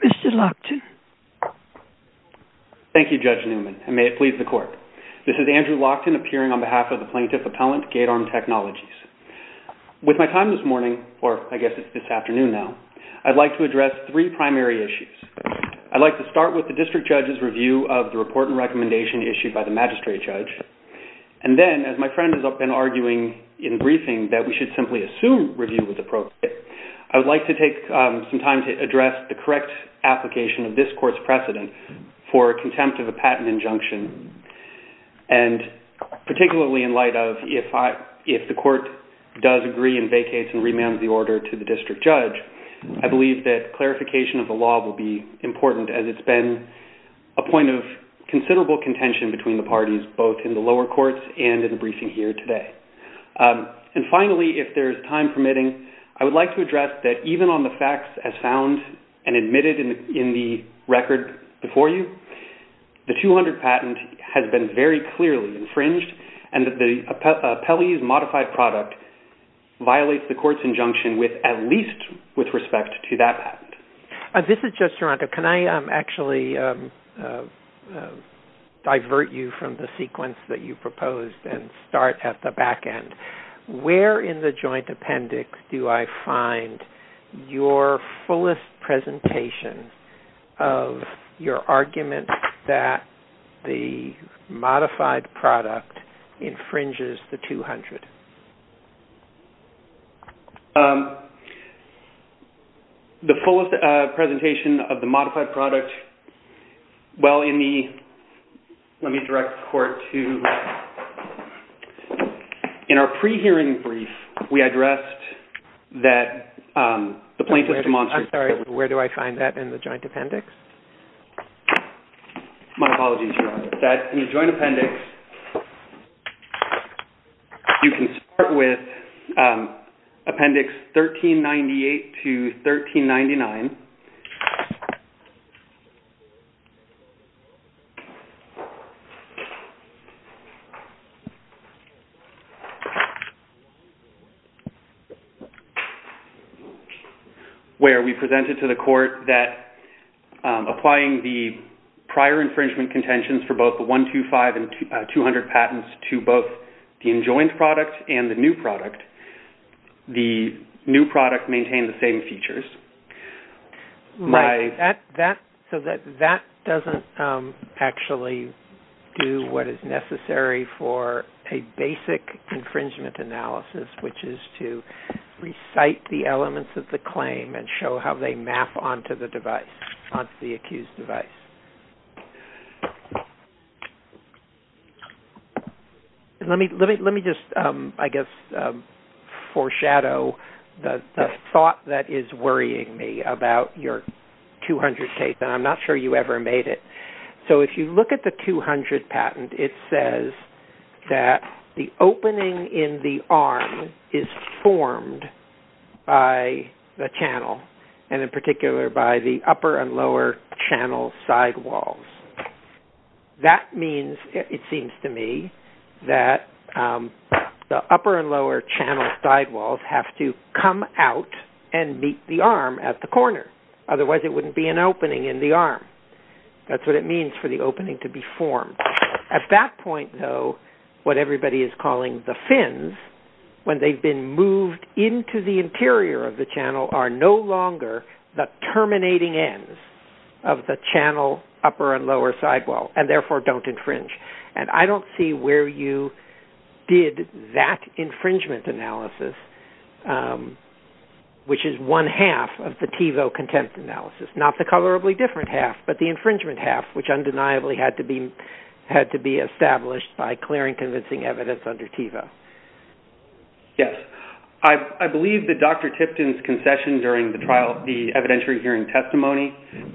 Mr. Lockton. Thank you, Judge Newman, and may it please the Court. This is Andrew Lockton appearing on behalf of the Plaintiff Appellant, GateArm Technologies. With my time this morning, or I guess it's this afternoon now, I'd like to address three primary issues. I'd like to start with the District Judge's review of the report and recommendation issued by the Magistrate Judge. And then, as my friend has been arguing in briefing that we should simply assume review was appropriate, I would like to take some time to address the correct application of this Court's precedent for contempt of a patent injunction. And particularly in light of if the Court does agree and vacates and remands the order to the District Judge, I believe that clarification of the law will be important, as it's been a point of considerable contention between the parties, both in the lower courts and in the briefing here today. And finally, if there's time permitting, I would like to address that even on the facts as found and admitted in the record before you, the 200 patent has been very clearly infringed, and that the appellee's modified product violates the Court's injunction with at least with respect to that patent. This is Judge Duranto. Can I actually divert you from the sequence that you proposed and start at the back end? Where in the joint appendix do I find your fullest presentation of your argument that the modified product infringes the 200? The fullest presentation of the modified product, well, in the, let me direct the Court to, in our pre-hearing brief, we addressed that the plaintiff's demonstrative I'm sorry, where do I find that in the joint appendix? My apologies, Your Honor. That in the joint appendix, you can start with Appendix 1398 to 1399. Where we presented to the Court that applying the prior infringement contentions for both the 125 and 200 patents to both the enjoined product and the new product, the new product maintain the same features. So that doesn't actually do what is necessary for a basic infringement analysis, which is to recite the elements of the claim and show how they map onto the device, onto the accused There's a thought that is worrying me about your 200 case, and I'm not sure you ever made it. So if you look at the 200 patent, it says that the opening in the arm is formed by the channel, and in particular by the upper and lower channel sidewalls. That means, it seems to me, that the upper and lower channel sidewalls have to come out and meet the arm at the corner. Otherwise it wouldn't be an opening in the arm. That's what it means for the opening to be formed. At that point, though, what everybody is calling the fins, when they've been moved into the sidewall, and therefore don't infringe. And I don't see where you did that infringement analysis, which is one half of the TEVO contempt analysis, not the colorably different half, but the infringement half, which undeniably had to be established by clearing convincing evidence under TEVO. I believe that Dr. Tipton's concession during the trial, the evidentiary hearing testimony,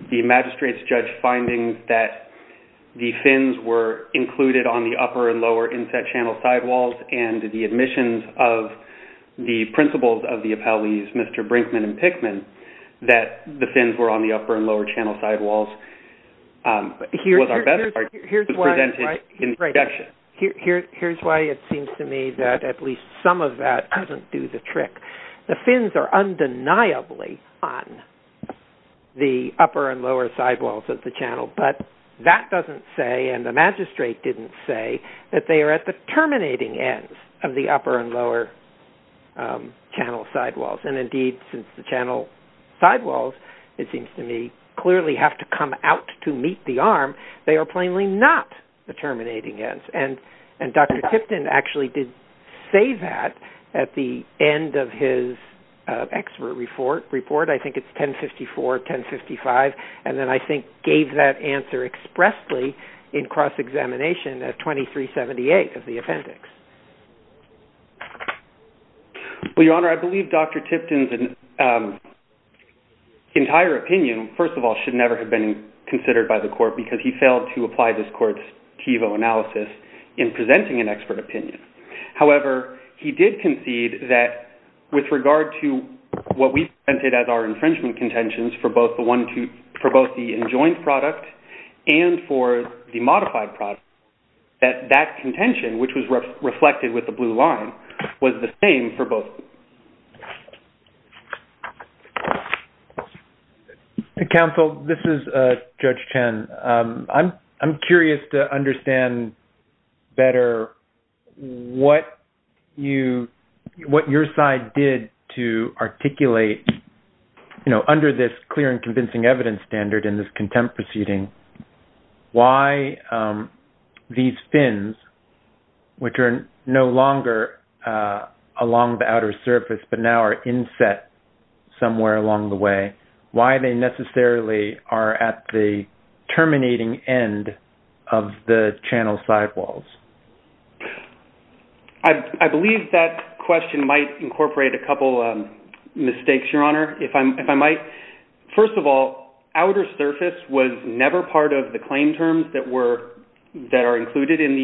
the magistrate's judge finding that the fins were included on the upper and lower inset channel sidewalls, and the admissions of the principals of the appellees, Mr. Brinkman and Pickman, that the fins were on the upper and lower channel sidewalls, was our best argument. Here's why it seems to me that at least some of that doesn't do the trick. The fins are undeniably on the upper and lower sidewalls of the channel. But that doesn't say, and the magistrate didn't say, that they are at the terminating ends of the upper and lower channel sidewalls. And indeed, since the channel sidewalls, it seems to me, clearly have to come out to meet the arm. They are plainly not the terminating ends. And Dr. Tipton actually did say that at the end of his expert report. I think it's 1054, 1055. And then I think gave that answer expressly in cross-examination at 2378 of the appendix. Well, Your Honor, I believe Dr. Tipton's entire opinion, first of all, should never have been in presenting an expert opinion. However, he did concede that with regard to what we presented as our infringement contentions for both the enjoined product and for the modified product, that that contention, which was reflected with the blue line, was the same for both. Counsel, this is Judge Chen. I'm curious to understand better what your side did to articulate, you know, under this clear and convincing evidence standard in this contempt proceeding, why these fins, which are no longer along the outer surface, but now are inset somewhere along the way, why they necessarily are at the terminating end of the channel sidewalls? I believe that question might incorporate a couple mistakes, Your Honor, if I might. First of all, outer surface was never part of the claim terms that are included in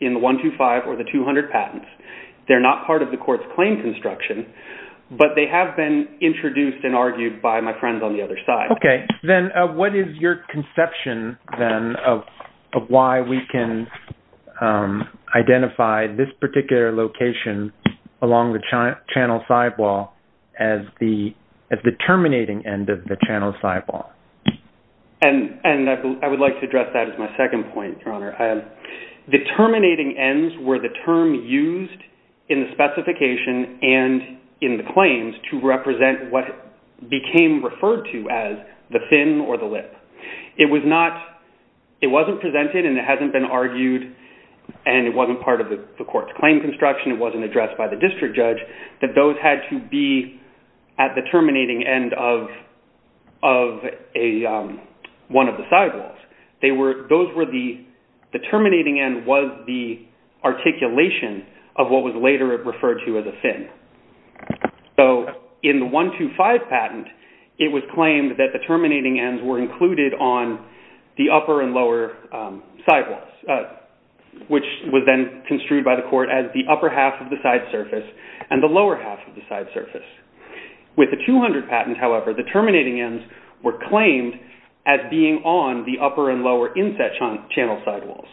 the 125 or the 200 patents. They're not part of the court's claim construction. But they have been introduced and argued by my friends on the other side. Okay. Then what is your conception, then, of why we can identify this particular location along the channel sidewall as the terminating end of the channel sidewall? And I would like to address that as my second point, Your Honor. The terminating ends were the term used in the specification and in the claims to represent what became referred to as the fin or the lip. It was not, it wasn't presented and it hasn't been argued, and it wasn't part of the court's claim construction, it wasn't addressed by the district judge, that those had to be at the terminating end of one of the sidewalls. Those were the, the terminating end was the articulation of what was later referred to as a fin. So in the 125 patent, it was claimed that the terminating ends were included on the upper and lower sidewalls, which was then construed by the court as the upper half of the side surface and the lower half of the side surface. With the 200 patent, however, the terminating ends were claimed as being on the upper and lower inset channel sidewalls.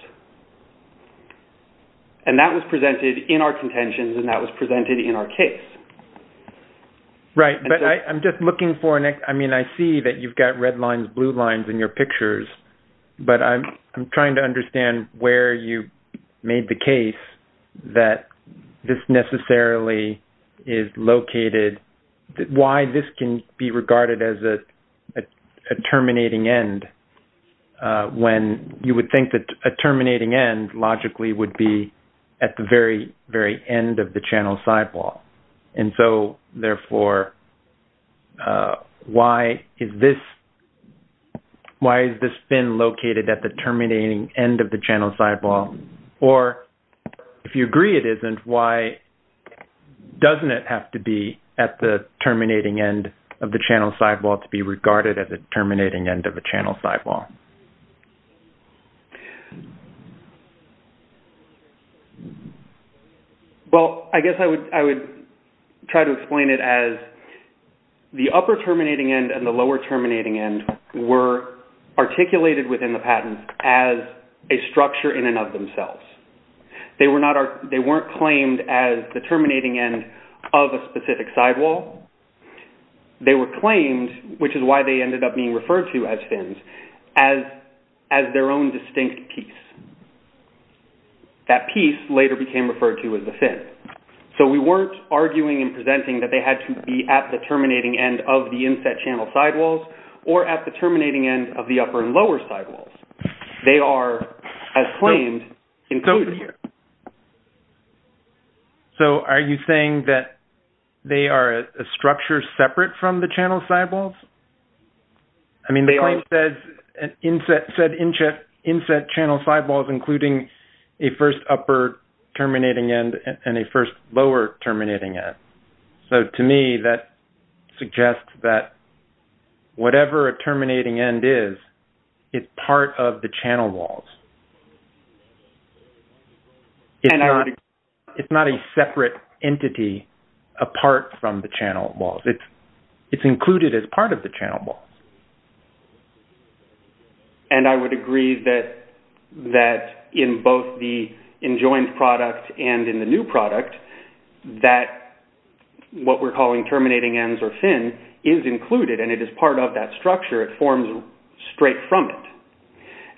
And that was presented in our contentions and that was presented in our case. Right, but I'm just looking for, I mean, I see that you've got red lines, blue lines in your pictures, but I'm trying to understand where you made the case that this necessarily is located, why this can be regarded as a terminating end when you would think that a terminating end logically would be at the very, very end of the channel sidewall. And so, therefore, why is this, why is this fin located at the terminating end of the channel sidewall? Or if you agree it isn't, why doesn't it have to be at the terminating end of the channel sidewall to be regarded as a terminating end of a channel sidewall? Well, I guess I would try to explain it as the upper terminating end and the lower terminating end were articulated within the patent as a structure in and of themselves. They were not, they weren't claimed as the terminating end of a specific sidewall. They were claimed, which is why they ended up being referred to as fins, as their own distinct piece. That piece later became referred to as the fin. So we weren't arguing and presenting that they had to be at the terminating end of the channel sidewalls or at the terminating end of the upper and lower sidewalls. They are, as claimed, included here. So are you saying that they are a structure separate from the channel sidewalls? I mean, the claim says inset channel sidewalls including a first upper terminating end and a first lower terminating end. So to me, that suggests that whatever a terminating end is, it's part of the channel walls. It's not a separate entity apart from the channel walls. It's included as part of the channel walls. And I would agree that in both the enjoined product and in the new product, that what we're calling terminating ends or fin is included and it is part of that structure. It forms straight from it.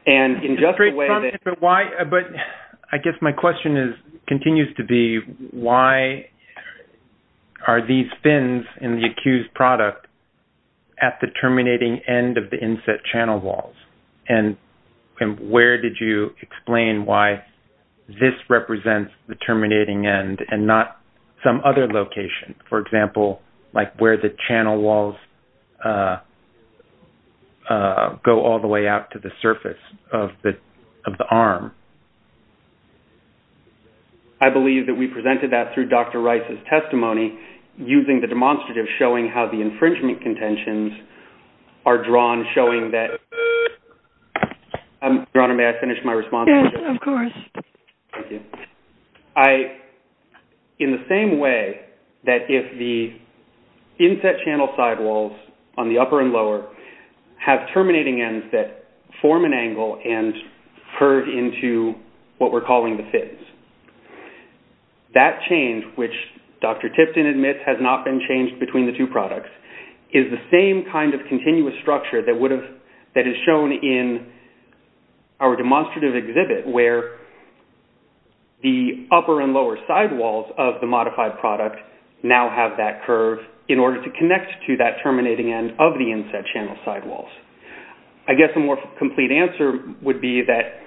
And in just the way that... Straight from it, but why, but I guess my question is, continues to be, why are these fins in the accused product at the terminating end of the inset channel walls? And where did you explain why this represents the terminating end and not some other location? For example, like where the channel walls go all the way out to the surface of the arm? I believe that we presented that through Dr. Rice's testimony using the demonstrative showing how the infringement contentions are drawn showing that... Your Honor, may I finish my response? Yes, of course. Thank you. I, in the same way that if the inset channel sidewalls on the upper and lower have terminating ends that form an angle and curve into what we're calling the fins, that change, which Dr. Tipton admits has not been changed between the two products, is the same kind of continuous structure that is shown in our demonstrative exhibit where the upper and lower sidewalls of the modified product now have that curve in order to connect to that terminating end of the inset channel sidewalls. I guess a more complete answer would be that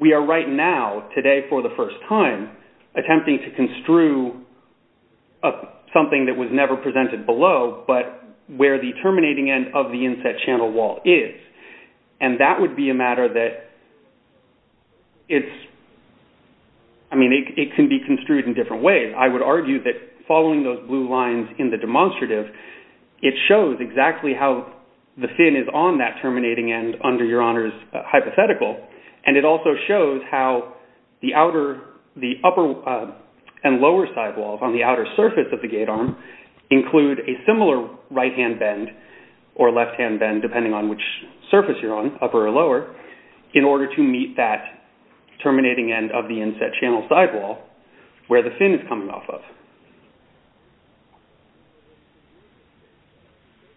we are right now, today for the first time, attempting to construe something that was never presented below but where the terminating end of the inset channel wall is. And that would be a matter that it's... I mean, it can be construed in different ways. I would argue that following those blue lines in the demonstrative, it shows exactly how the fin is on that terminating end under Your Honor's hypothetical. And it also shows how the upper and lower sidewalls on the outer surface of the gatearm include a similar right-hand bend or left-hand bend, depending on which surface you're on, upper or lower, in order to meet that terminating end of the inset channel sidewall where the terminating end is coming off of.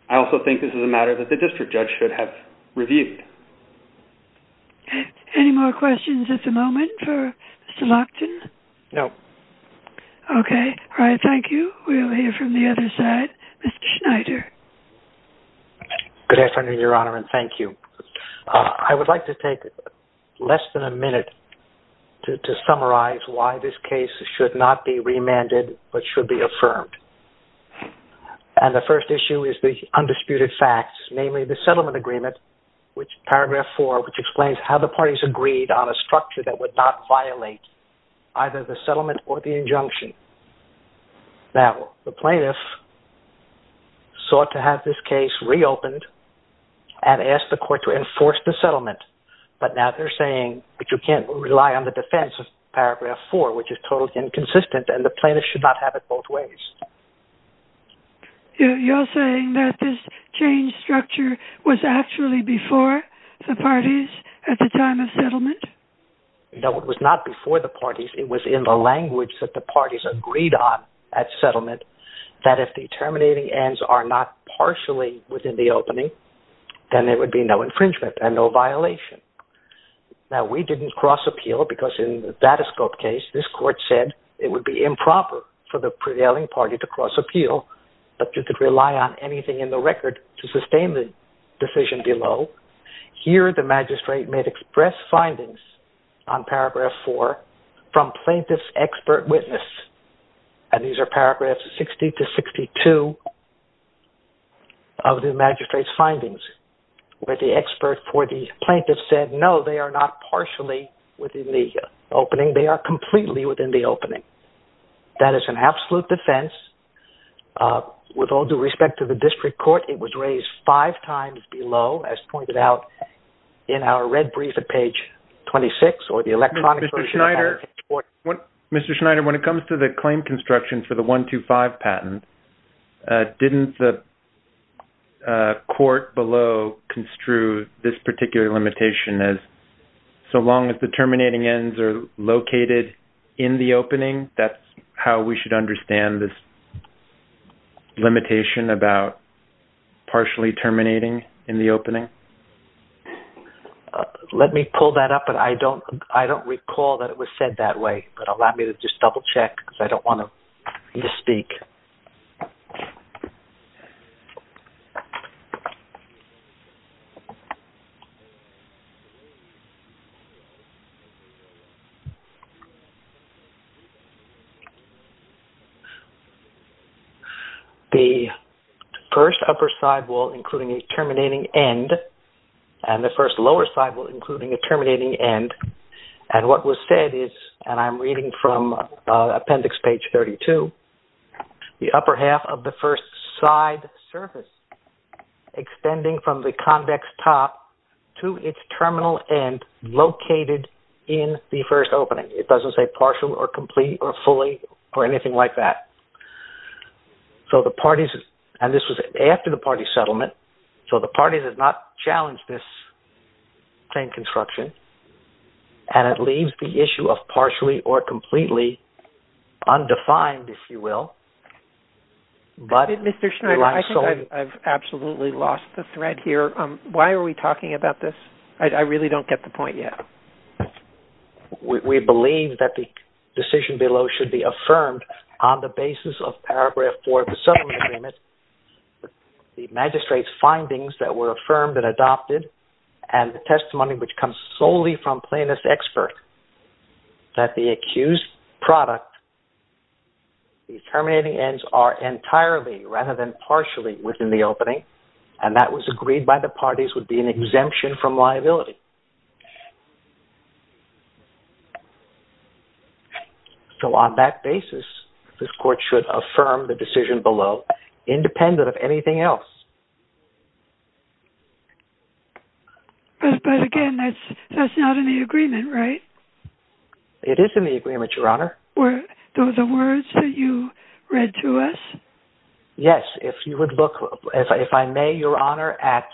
I also think this is a matter that the district judge should have reviewed. Any more questions at the moment for Mr. Lockton? No. Okay, all right, thank you. We'll hear from the other side. Mr. Schneider. Good afternoon, Your Honor, and thank you. I would like to take less than a minute to summarize why this case should not be remanded but should be affirmed. And the first issue is the undisputed facts, namely the settlement agreement, paragraph four, which explains how the parties agreed on a structure that would not violate either the settlement or the injunction. Now, the plaintiff sought to have this case reopened and asked the court to enforce the settlement, but now they're saying that you can't rely on the defense of paragraph four, which is totally inconsistent, and the plaintiff should not have it both ways. You're saying that this change structure was actually before the parties at the time of settlement? No, it was not before the parties. It was in the language that the parties agreed on at settlement that if the terminating ends are not partially within the opening, then there would be no infringement and no violation. Now, we didn't cross appeal because in the Datascope case, this court said it would be improper for the prevailing party to cross appeal, but you could rely on anything in the record to sustain the decision below. Here, the magistrate may express findings on paragraph four from plaintiff's expert witness, and these are paragraphs 60 to 62 of the magistrate's findings, where the expert for the plaintiff said, no, they are not partially within the opening. They are completely within the opening. That is an absolute defense. With all due respect to the district court, it was raised five times below, as pointed out in our red brief at page 26. Mr. Schneider, when it comes to the claim construction for the 125 patent, didn't the court below construe this particular limitation as so long as the terminating ends are located in the opening, that's how we should understand this limitation about partially terminating in the opening? Let me pull that up, but I don't recall that it was said that way, but allow me to just double check because I don't want to misspeak. The first upper side wall including a terminating end, and the first lower side wall including a terminating end, and what was said is, and I'm reading from appendix page 32, the upper half of the first side surface extending from the convex top to its terminal end located in the first opening. It doesn't say partial or complete or fully or anything like that. And this was after the party settlement, so the party did not challenge this claim construction, and it leaves the issue of partially or completely undefined, if you will. Mr. Schneider, I think I've absolutely lost the thread here. Why are we talking about this? I really don't get the point yet. We believe that the decision below should be affirmed on the basis of paragraph 4 of the settlement agreement, the magistrate's findings that were affirmed and adopted, and the testimony which comes solely from plaintiff's expert, that the accused product, the terminating ends are entirely rather than partially within the opening, and that was agreed by the parties would be an exemption from liability. So on that basis, this court should affirm the decision below independent of anything else. But again, that's not in the agreement, right? It is in the agreement, Your Honor. Were those the words that you read to us? Yes, if you would look, if I may, Your Honor, at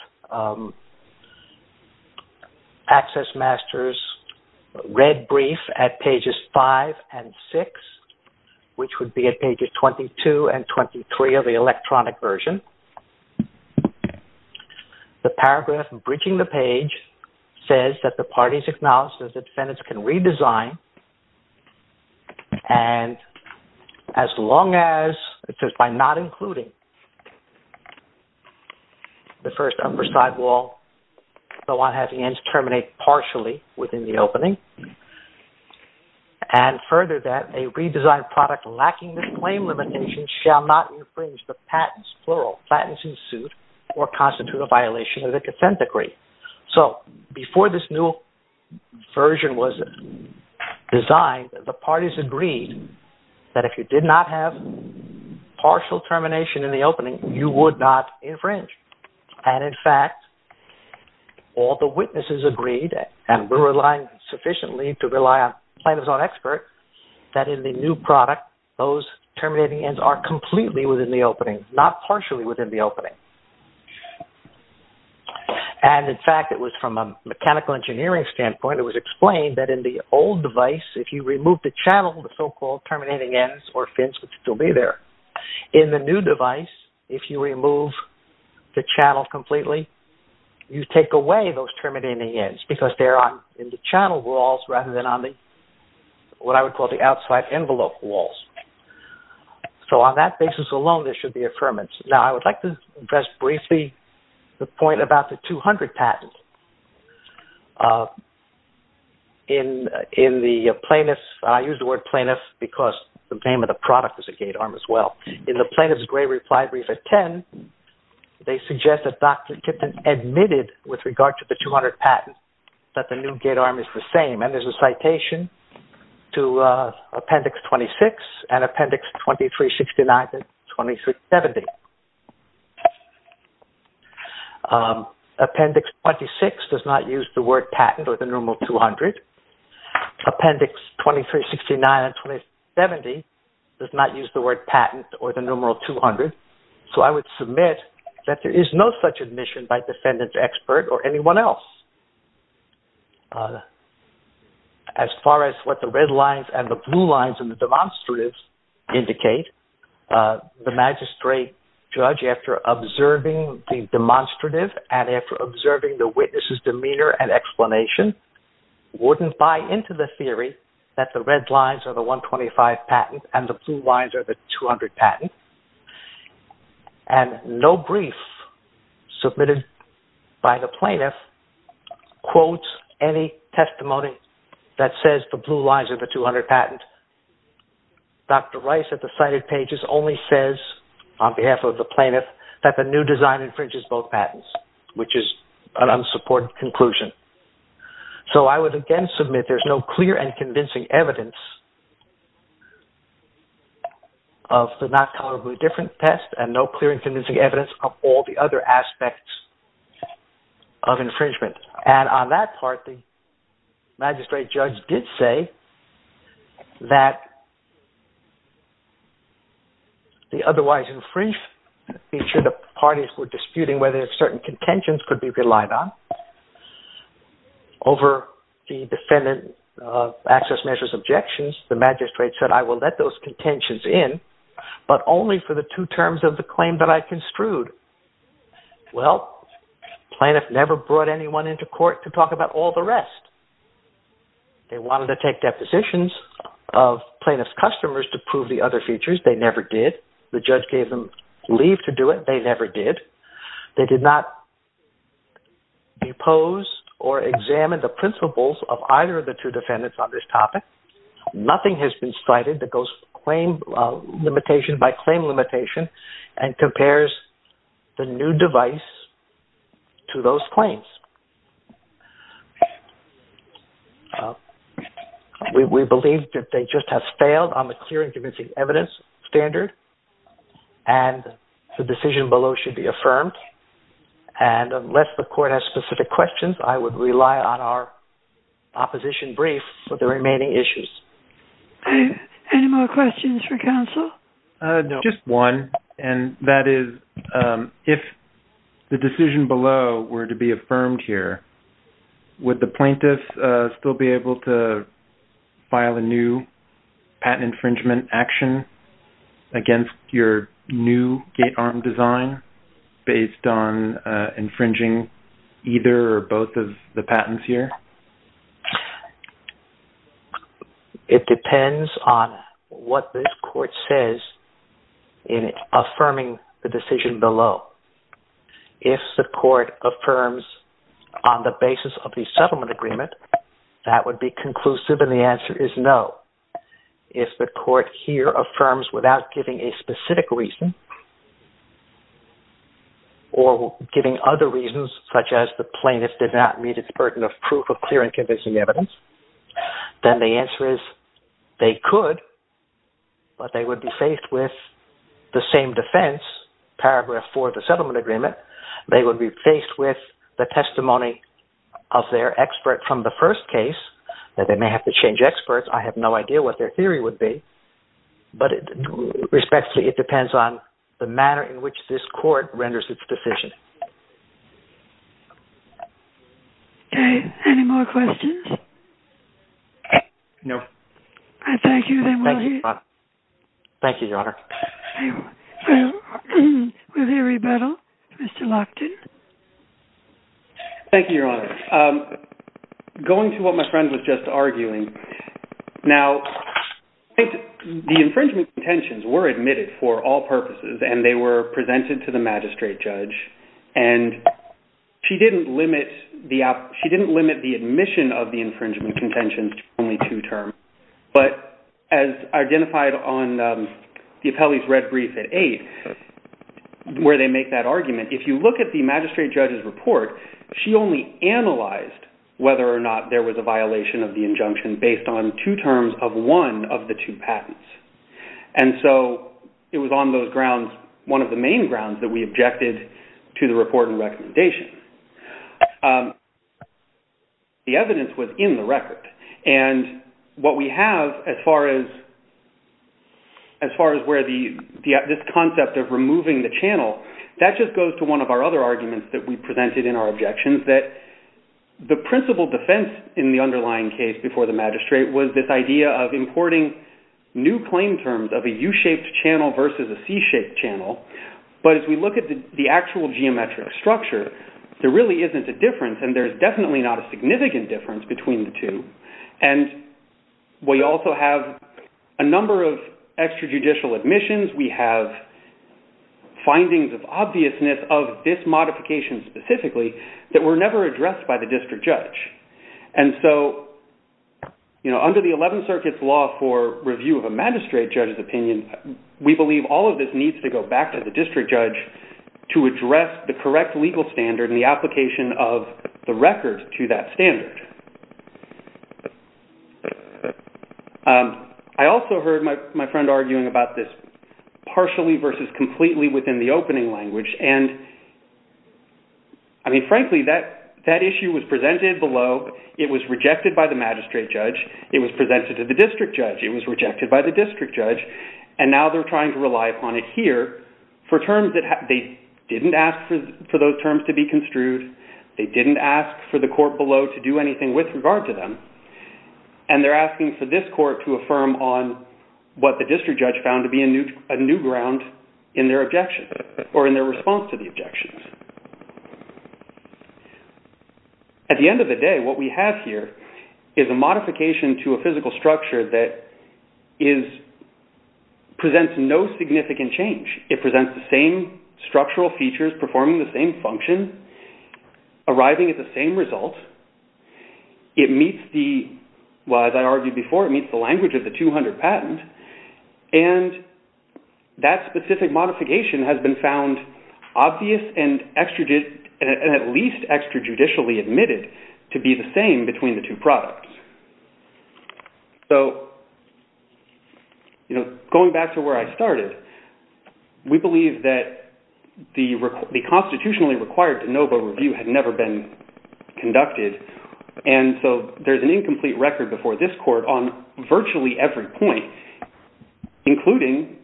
Access Master's red brief at pages 5 and 6, which would be at pages 22 and 23 of the electronic version. The paragraph bridging the page says that the parties acknowledge that the defendants can redesign, and as long as, it says, by not including the first upper side wall, the one having ends terminate partially within the opening, and further that a redesigned product lacking this claim limitation shall not infringe the patents, plural, patents in suit or constitute a violation of the consent decree. So before this new version was designed, the parties agreed that if you did not have partial termination in the opening, you would not infringe. And in fact, all the witnesses agreed, and we're relying sufficiently to rely on plaintiffs on experts, that in the new product, those terminating ends are completely within the opening, not partially within the opening. And in fact, it was from a mechanical engineering standpoint, it was explained that in the old device, if you remove the channel, the so-called terminating ends or fins would still be there. In the new device, if you remove the channel completely, you take away those terminating ends, because they're in the channel walls rather than on what I would call the outside envelope walls. So on that basis alone, there should be affirmance. Now, I would like to address briefly the point about the 200 patents. I use the word plaintiff because the name of the product is a gate arm as well. In the plaintiff's grave reply brief at 10, they suggest that Dr. Tipton admitted with regard to the 200 patents that the new gate arm is the same. And there's a citation to Appendix 26 and Appendix 2369 and 2370. Appendix 26 does not use the word patent or the numeral 200. Appendix 2369 and 2370 does not use the word patent or the numeral 200. So I would submit that there is no such admission by defendant expert or anyone else. As far as what the red lines and the blue lines in the demonstratives indicate, the magistrate judge, after observing the demonstrative and after observing the witness's demeanor and explanation, wouldn't buy into the theory that the red lines are the 125 patents and the blue lines are the 200 patents. And no brief submitted by the plaintiff quotes any testimony that says the blue lines are the 200 patents. Dr. Rice at the cited pages only says on behalf of the plaintiff that the new design infringes both patents, which is an unsupported conclusion. So I would again submit there's no clear and convincing evidence of the not colorably different test and no clear and convincing evidence of all the other aspects of infringement. And on that part, the magistrate judge did say that the otherwise infringed feature the parties were disputing whether certain contentions could be relied on. Over the defendant access measures objections, the magistrate said I will let those contentions in, but only for the two terms of the claim that I construed. Well, plaintiff never brought anyone into court to talk about all the rest. They wanted to take depositions of plaintiff's customers to prove the other features. They never did. The judge gave them leave to do it. They never did. They did not depose or examine the principles of either of the two defendants on this topic. Nothing has been cited that goes by claim limitation and compares the new device to those claims. We believe that they just have failed on the clear and convincing evidence standard, and the decision below should be affirmed. And unless the court has specific questions, I would rely on our opposition brief for the remaining issues. Any more questions for counsel? No, just one, and that is if the decision below were to be affirmed here, would the plaintiff still be able to file a new patent infringement action against your new gate arm design based on infringing either or both of the patents here? It depends on what this court says in affirming the decision below. If the court affirms on the basis of the settlement agreement, that would be conclusive, and the answer is no. If the court here affirms without giving a specific reason or giving other reasons, such as the plaintiff did not meet its burden of proof of clear and convincing evidence, then the answer is they could, but they would be faced with the same defense, paragraph 4 of the settlement agreement. They would be faced with the testimony of their expert from the first case. They may have to change experts. I have no idea what their theory would be. But respectfully, it depends on the manner in which this court renders its decision. Any more questions? No. Thank you, Your Honor. Thank you, Your Honor. Will you rebuttal, Mr. Lockton? Thank you, Your Honor. Going to what my friend was just arguing, now, the infringement contentions were admitted for all purposes, and they were presented to the magistrate judge, and she didn't limit the admission of the infringement contentions to only two terms. But as identified on the appellee's red brief at 8, where they make that argument, if you look at the magistrate judge's report, she only analyzed whether or not there was a violation of the injunction based on two terms of one of the two patents. And so it was on those grounds, one of the main grounds, that we objected to the report and recommendation. The evidence was in the record. And what we have as far as where this concept of removing the channel, that just goes to one of our other arguments that we presented in our objections, that the principal defense in the underlying case before the magistrate was this idea of importing new claim terms of a U-shaped channel versus a C-shaped channel. But as we look at the actual geometric structure, there really isn't a difference, and there's definitely not a significant difference between the two. And we also have a number of extrajudicial admissions. We have findings of obviousness of this modification specifically that were never addressed by the district judge. And so under the 11th Circuit's law for review of a magistrate judge's opinion, we believe all of this needs to go back to the district judge to address the correct legal standard and the application of the record to that standard. I also heard my friend arguing about this partially versus completely within the opening language. I mean, frankly, that issue was presented below. It was rejected by the magistrate judge. It was presented to the district judge. It was rejected by the district judge. And now they're trying to rely upon it here for terms that they didn't ask for those terms to be construed. They didn't ask for the court below to do anything with regard to them. And they're asking for this court to affirm on what the district judge found to be a new ground in their objection or in their response to the objections. At the end of the day, what we have here is a modification to a physical structure that presents no significant change. It presents the same structural features performing the same function, arriving at the same result. It meets the, well, as I argued before, it meets the language of the 200 patent. And that specific modification has been found obvious and at least extrajudicially admitted to be the same between the two products. So, you know, going back to where I started, we believe that the constitutionally required de novo review had never been conducted. And so there's an incomplete record before this court on virtually every point, including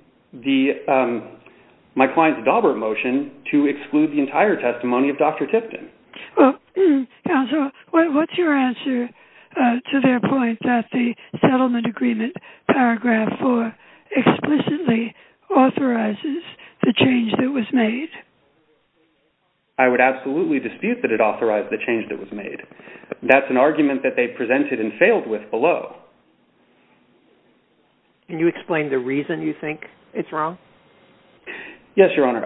my client's Daubert motion to exclude the entire testimony of Dr. Tipton. Well, counsel, what's your answer to their point that the settlement agreement paragraph 4 explicitly authorizes the change that was made? I would absolutely dispute that it authorized the change that was made. That's an argument that they presented and failed with below. Can you explain the reason you think it's wrong? Yes, Your Honor.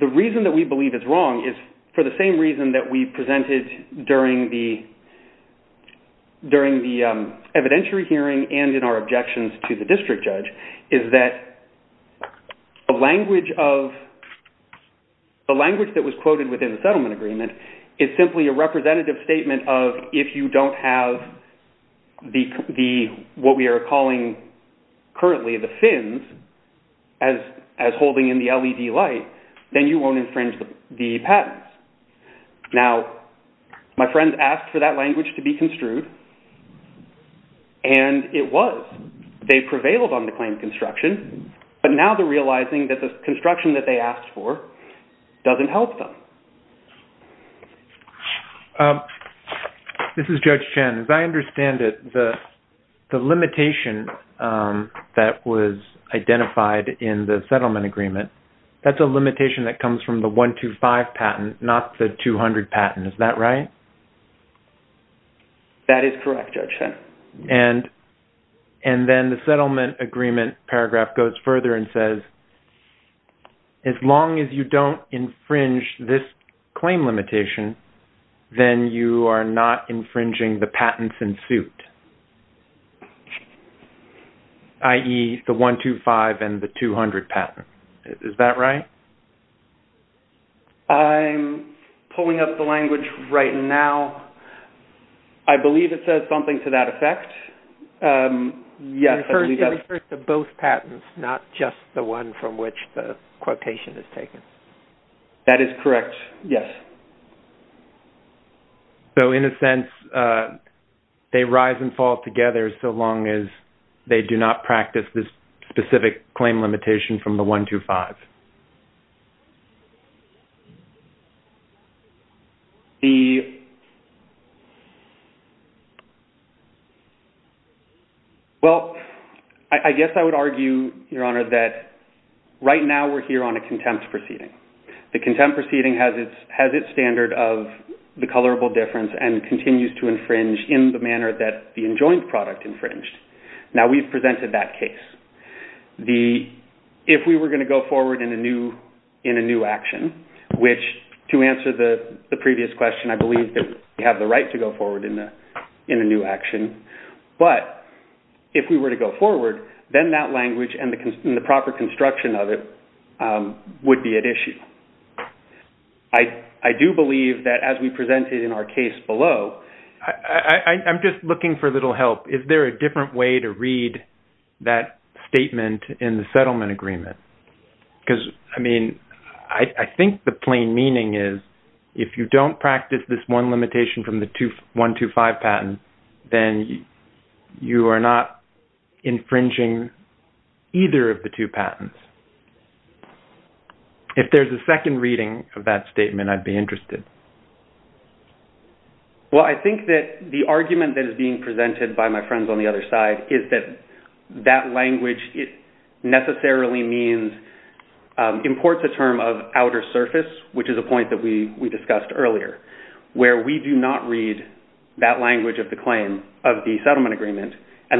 The reason that we believe it's wrong is for the same reason that we presented during the evidentiary hearing and in our objections to the district judge, is that the language that was quoted within the settlement agreement is simply a representative statement of, if you don't have what we are calling currently the fins as holding in the LED light, then you won't infringe the patents. Now, my friend asked for that language to be construed, and it was. They prevailed on the claim construction, but now they're realizing that the construction that they asked for doesn't help them. This is Judge Chen. As I understand it, the limitation that was identified in the settlement agreement, that's a limitation that comes from the 125 patent, not the 200 patent. Is that right? That is correct, Judge Chen. And then the settlement agreement paragraph goes further and says, as long as you don't infringe this claim limitation, then you are not infringing the patents in suit, i.e., the 125 and the 200 patent. Is that right? I'm pulling up the language right now. I believe it says something to that effect. It refers to both patents, not just the one from which the quotation is taken. That is correct, yes. So, in a sense, they rise and fall together so long as they do not practice this specific claim limitation from the 125. Well, I guess I would argue, Your Honor, that right now we're here on a contempt proceeding. The contempt proceeding has its standard of the colorable difference and continues to infringe in the manner that the enjoined product infringed. Now, we've presented that case. If we were going to go forward in a new action, which, to answer the previous question, I believe that we have the right to go forward in a new action, but if we were to go forward, then that language and the proper construction of it would be at issue. I do believe that, as we presented in our case below... I'm just looking for a little help. Is there a different way to read that statement in the settlement agreement? I think the plain meaning is, if you don't practice this one limitation from the 125 patent, then you are not infringing either of the two patents. If there's a second reading of that statement, I'd be interested. Well, I think that the argument that is being presented by my friends on the other side is that that language necessarily imports a term of outer surface, which is a point that we discussed earlier, where we do not read that language of the claim of the settlement agreement. I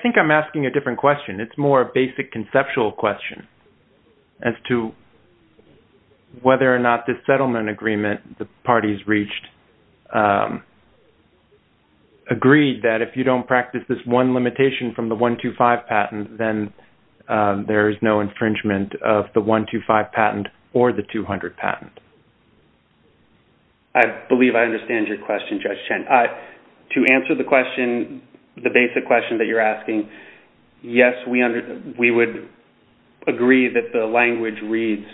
think I'm asking a different question. It's more a basic conceptual question as to whether or not this settlement agreement the parties reached agreed that if you don't practice this one limitation from the 125 patent, then there is no infringement of the 125 patent or the 200 patent. I believe I understand your question, Judge Chen. To answer the question, the basic question that you're asking, yes, we would agree that the language reads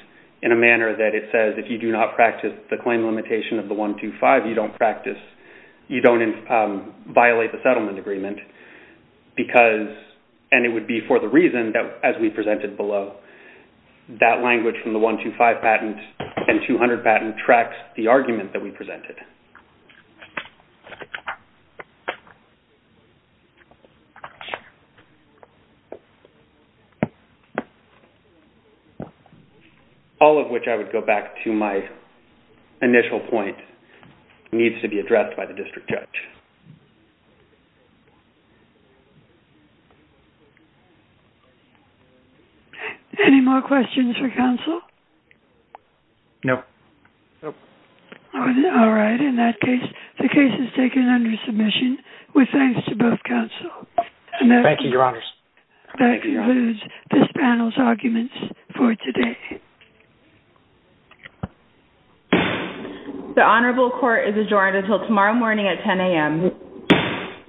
in a manner that it says if you do not practice the claim limitation of the 125, you don't violate the settlement agreement. It would be for the reason that, as we presented below, that language from the 125 patent and 200 patent tracks the argument that we presented. All of which, I would go back to my initial point, needs to be addressed by the district judge. Any more questions for counsel? No. All right. In that case, the case is taken under submission with thanks to both counsel. Thank you. Thank you, Your Honors. That concludes this panel's arguments for today. The honorable court is adjourned until tomorrow morning at 10 a.m.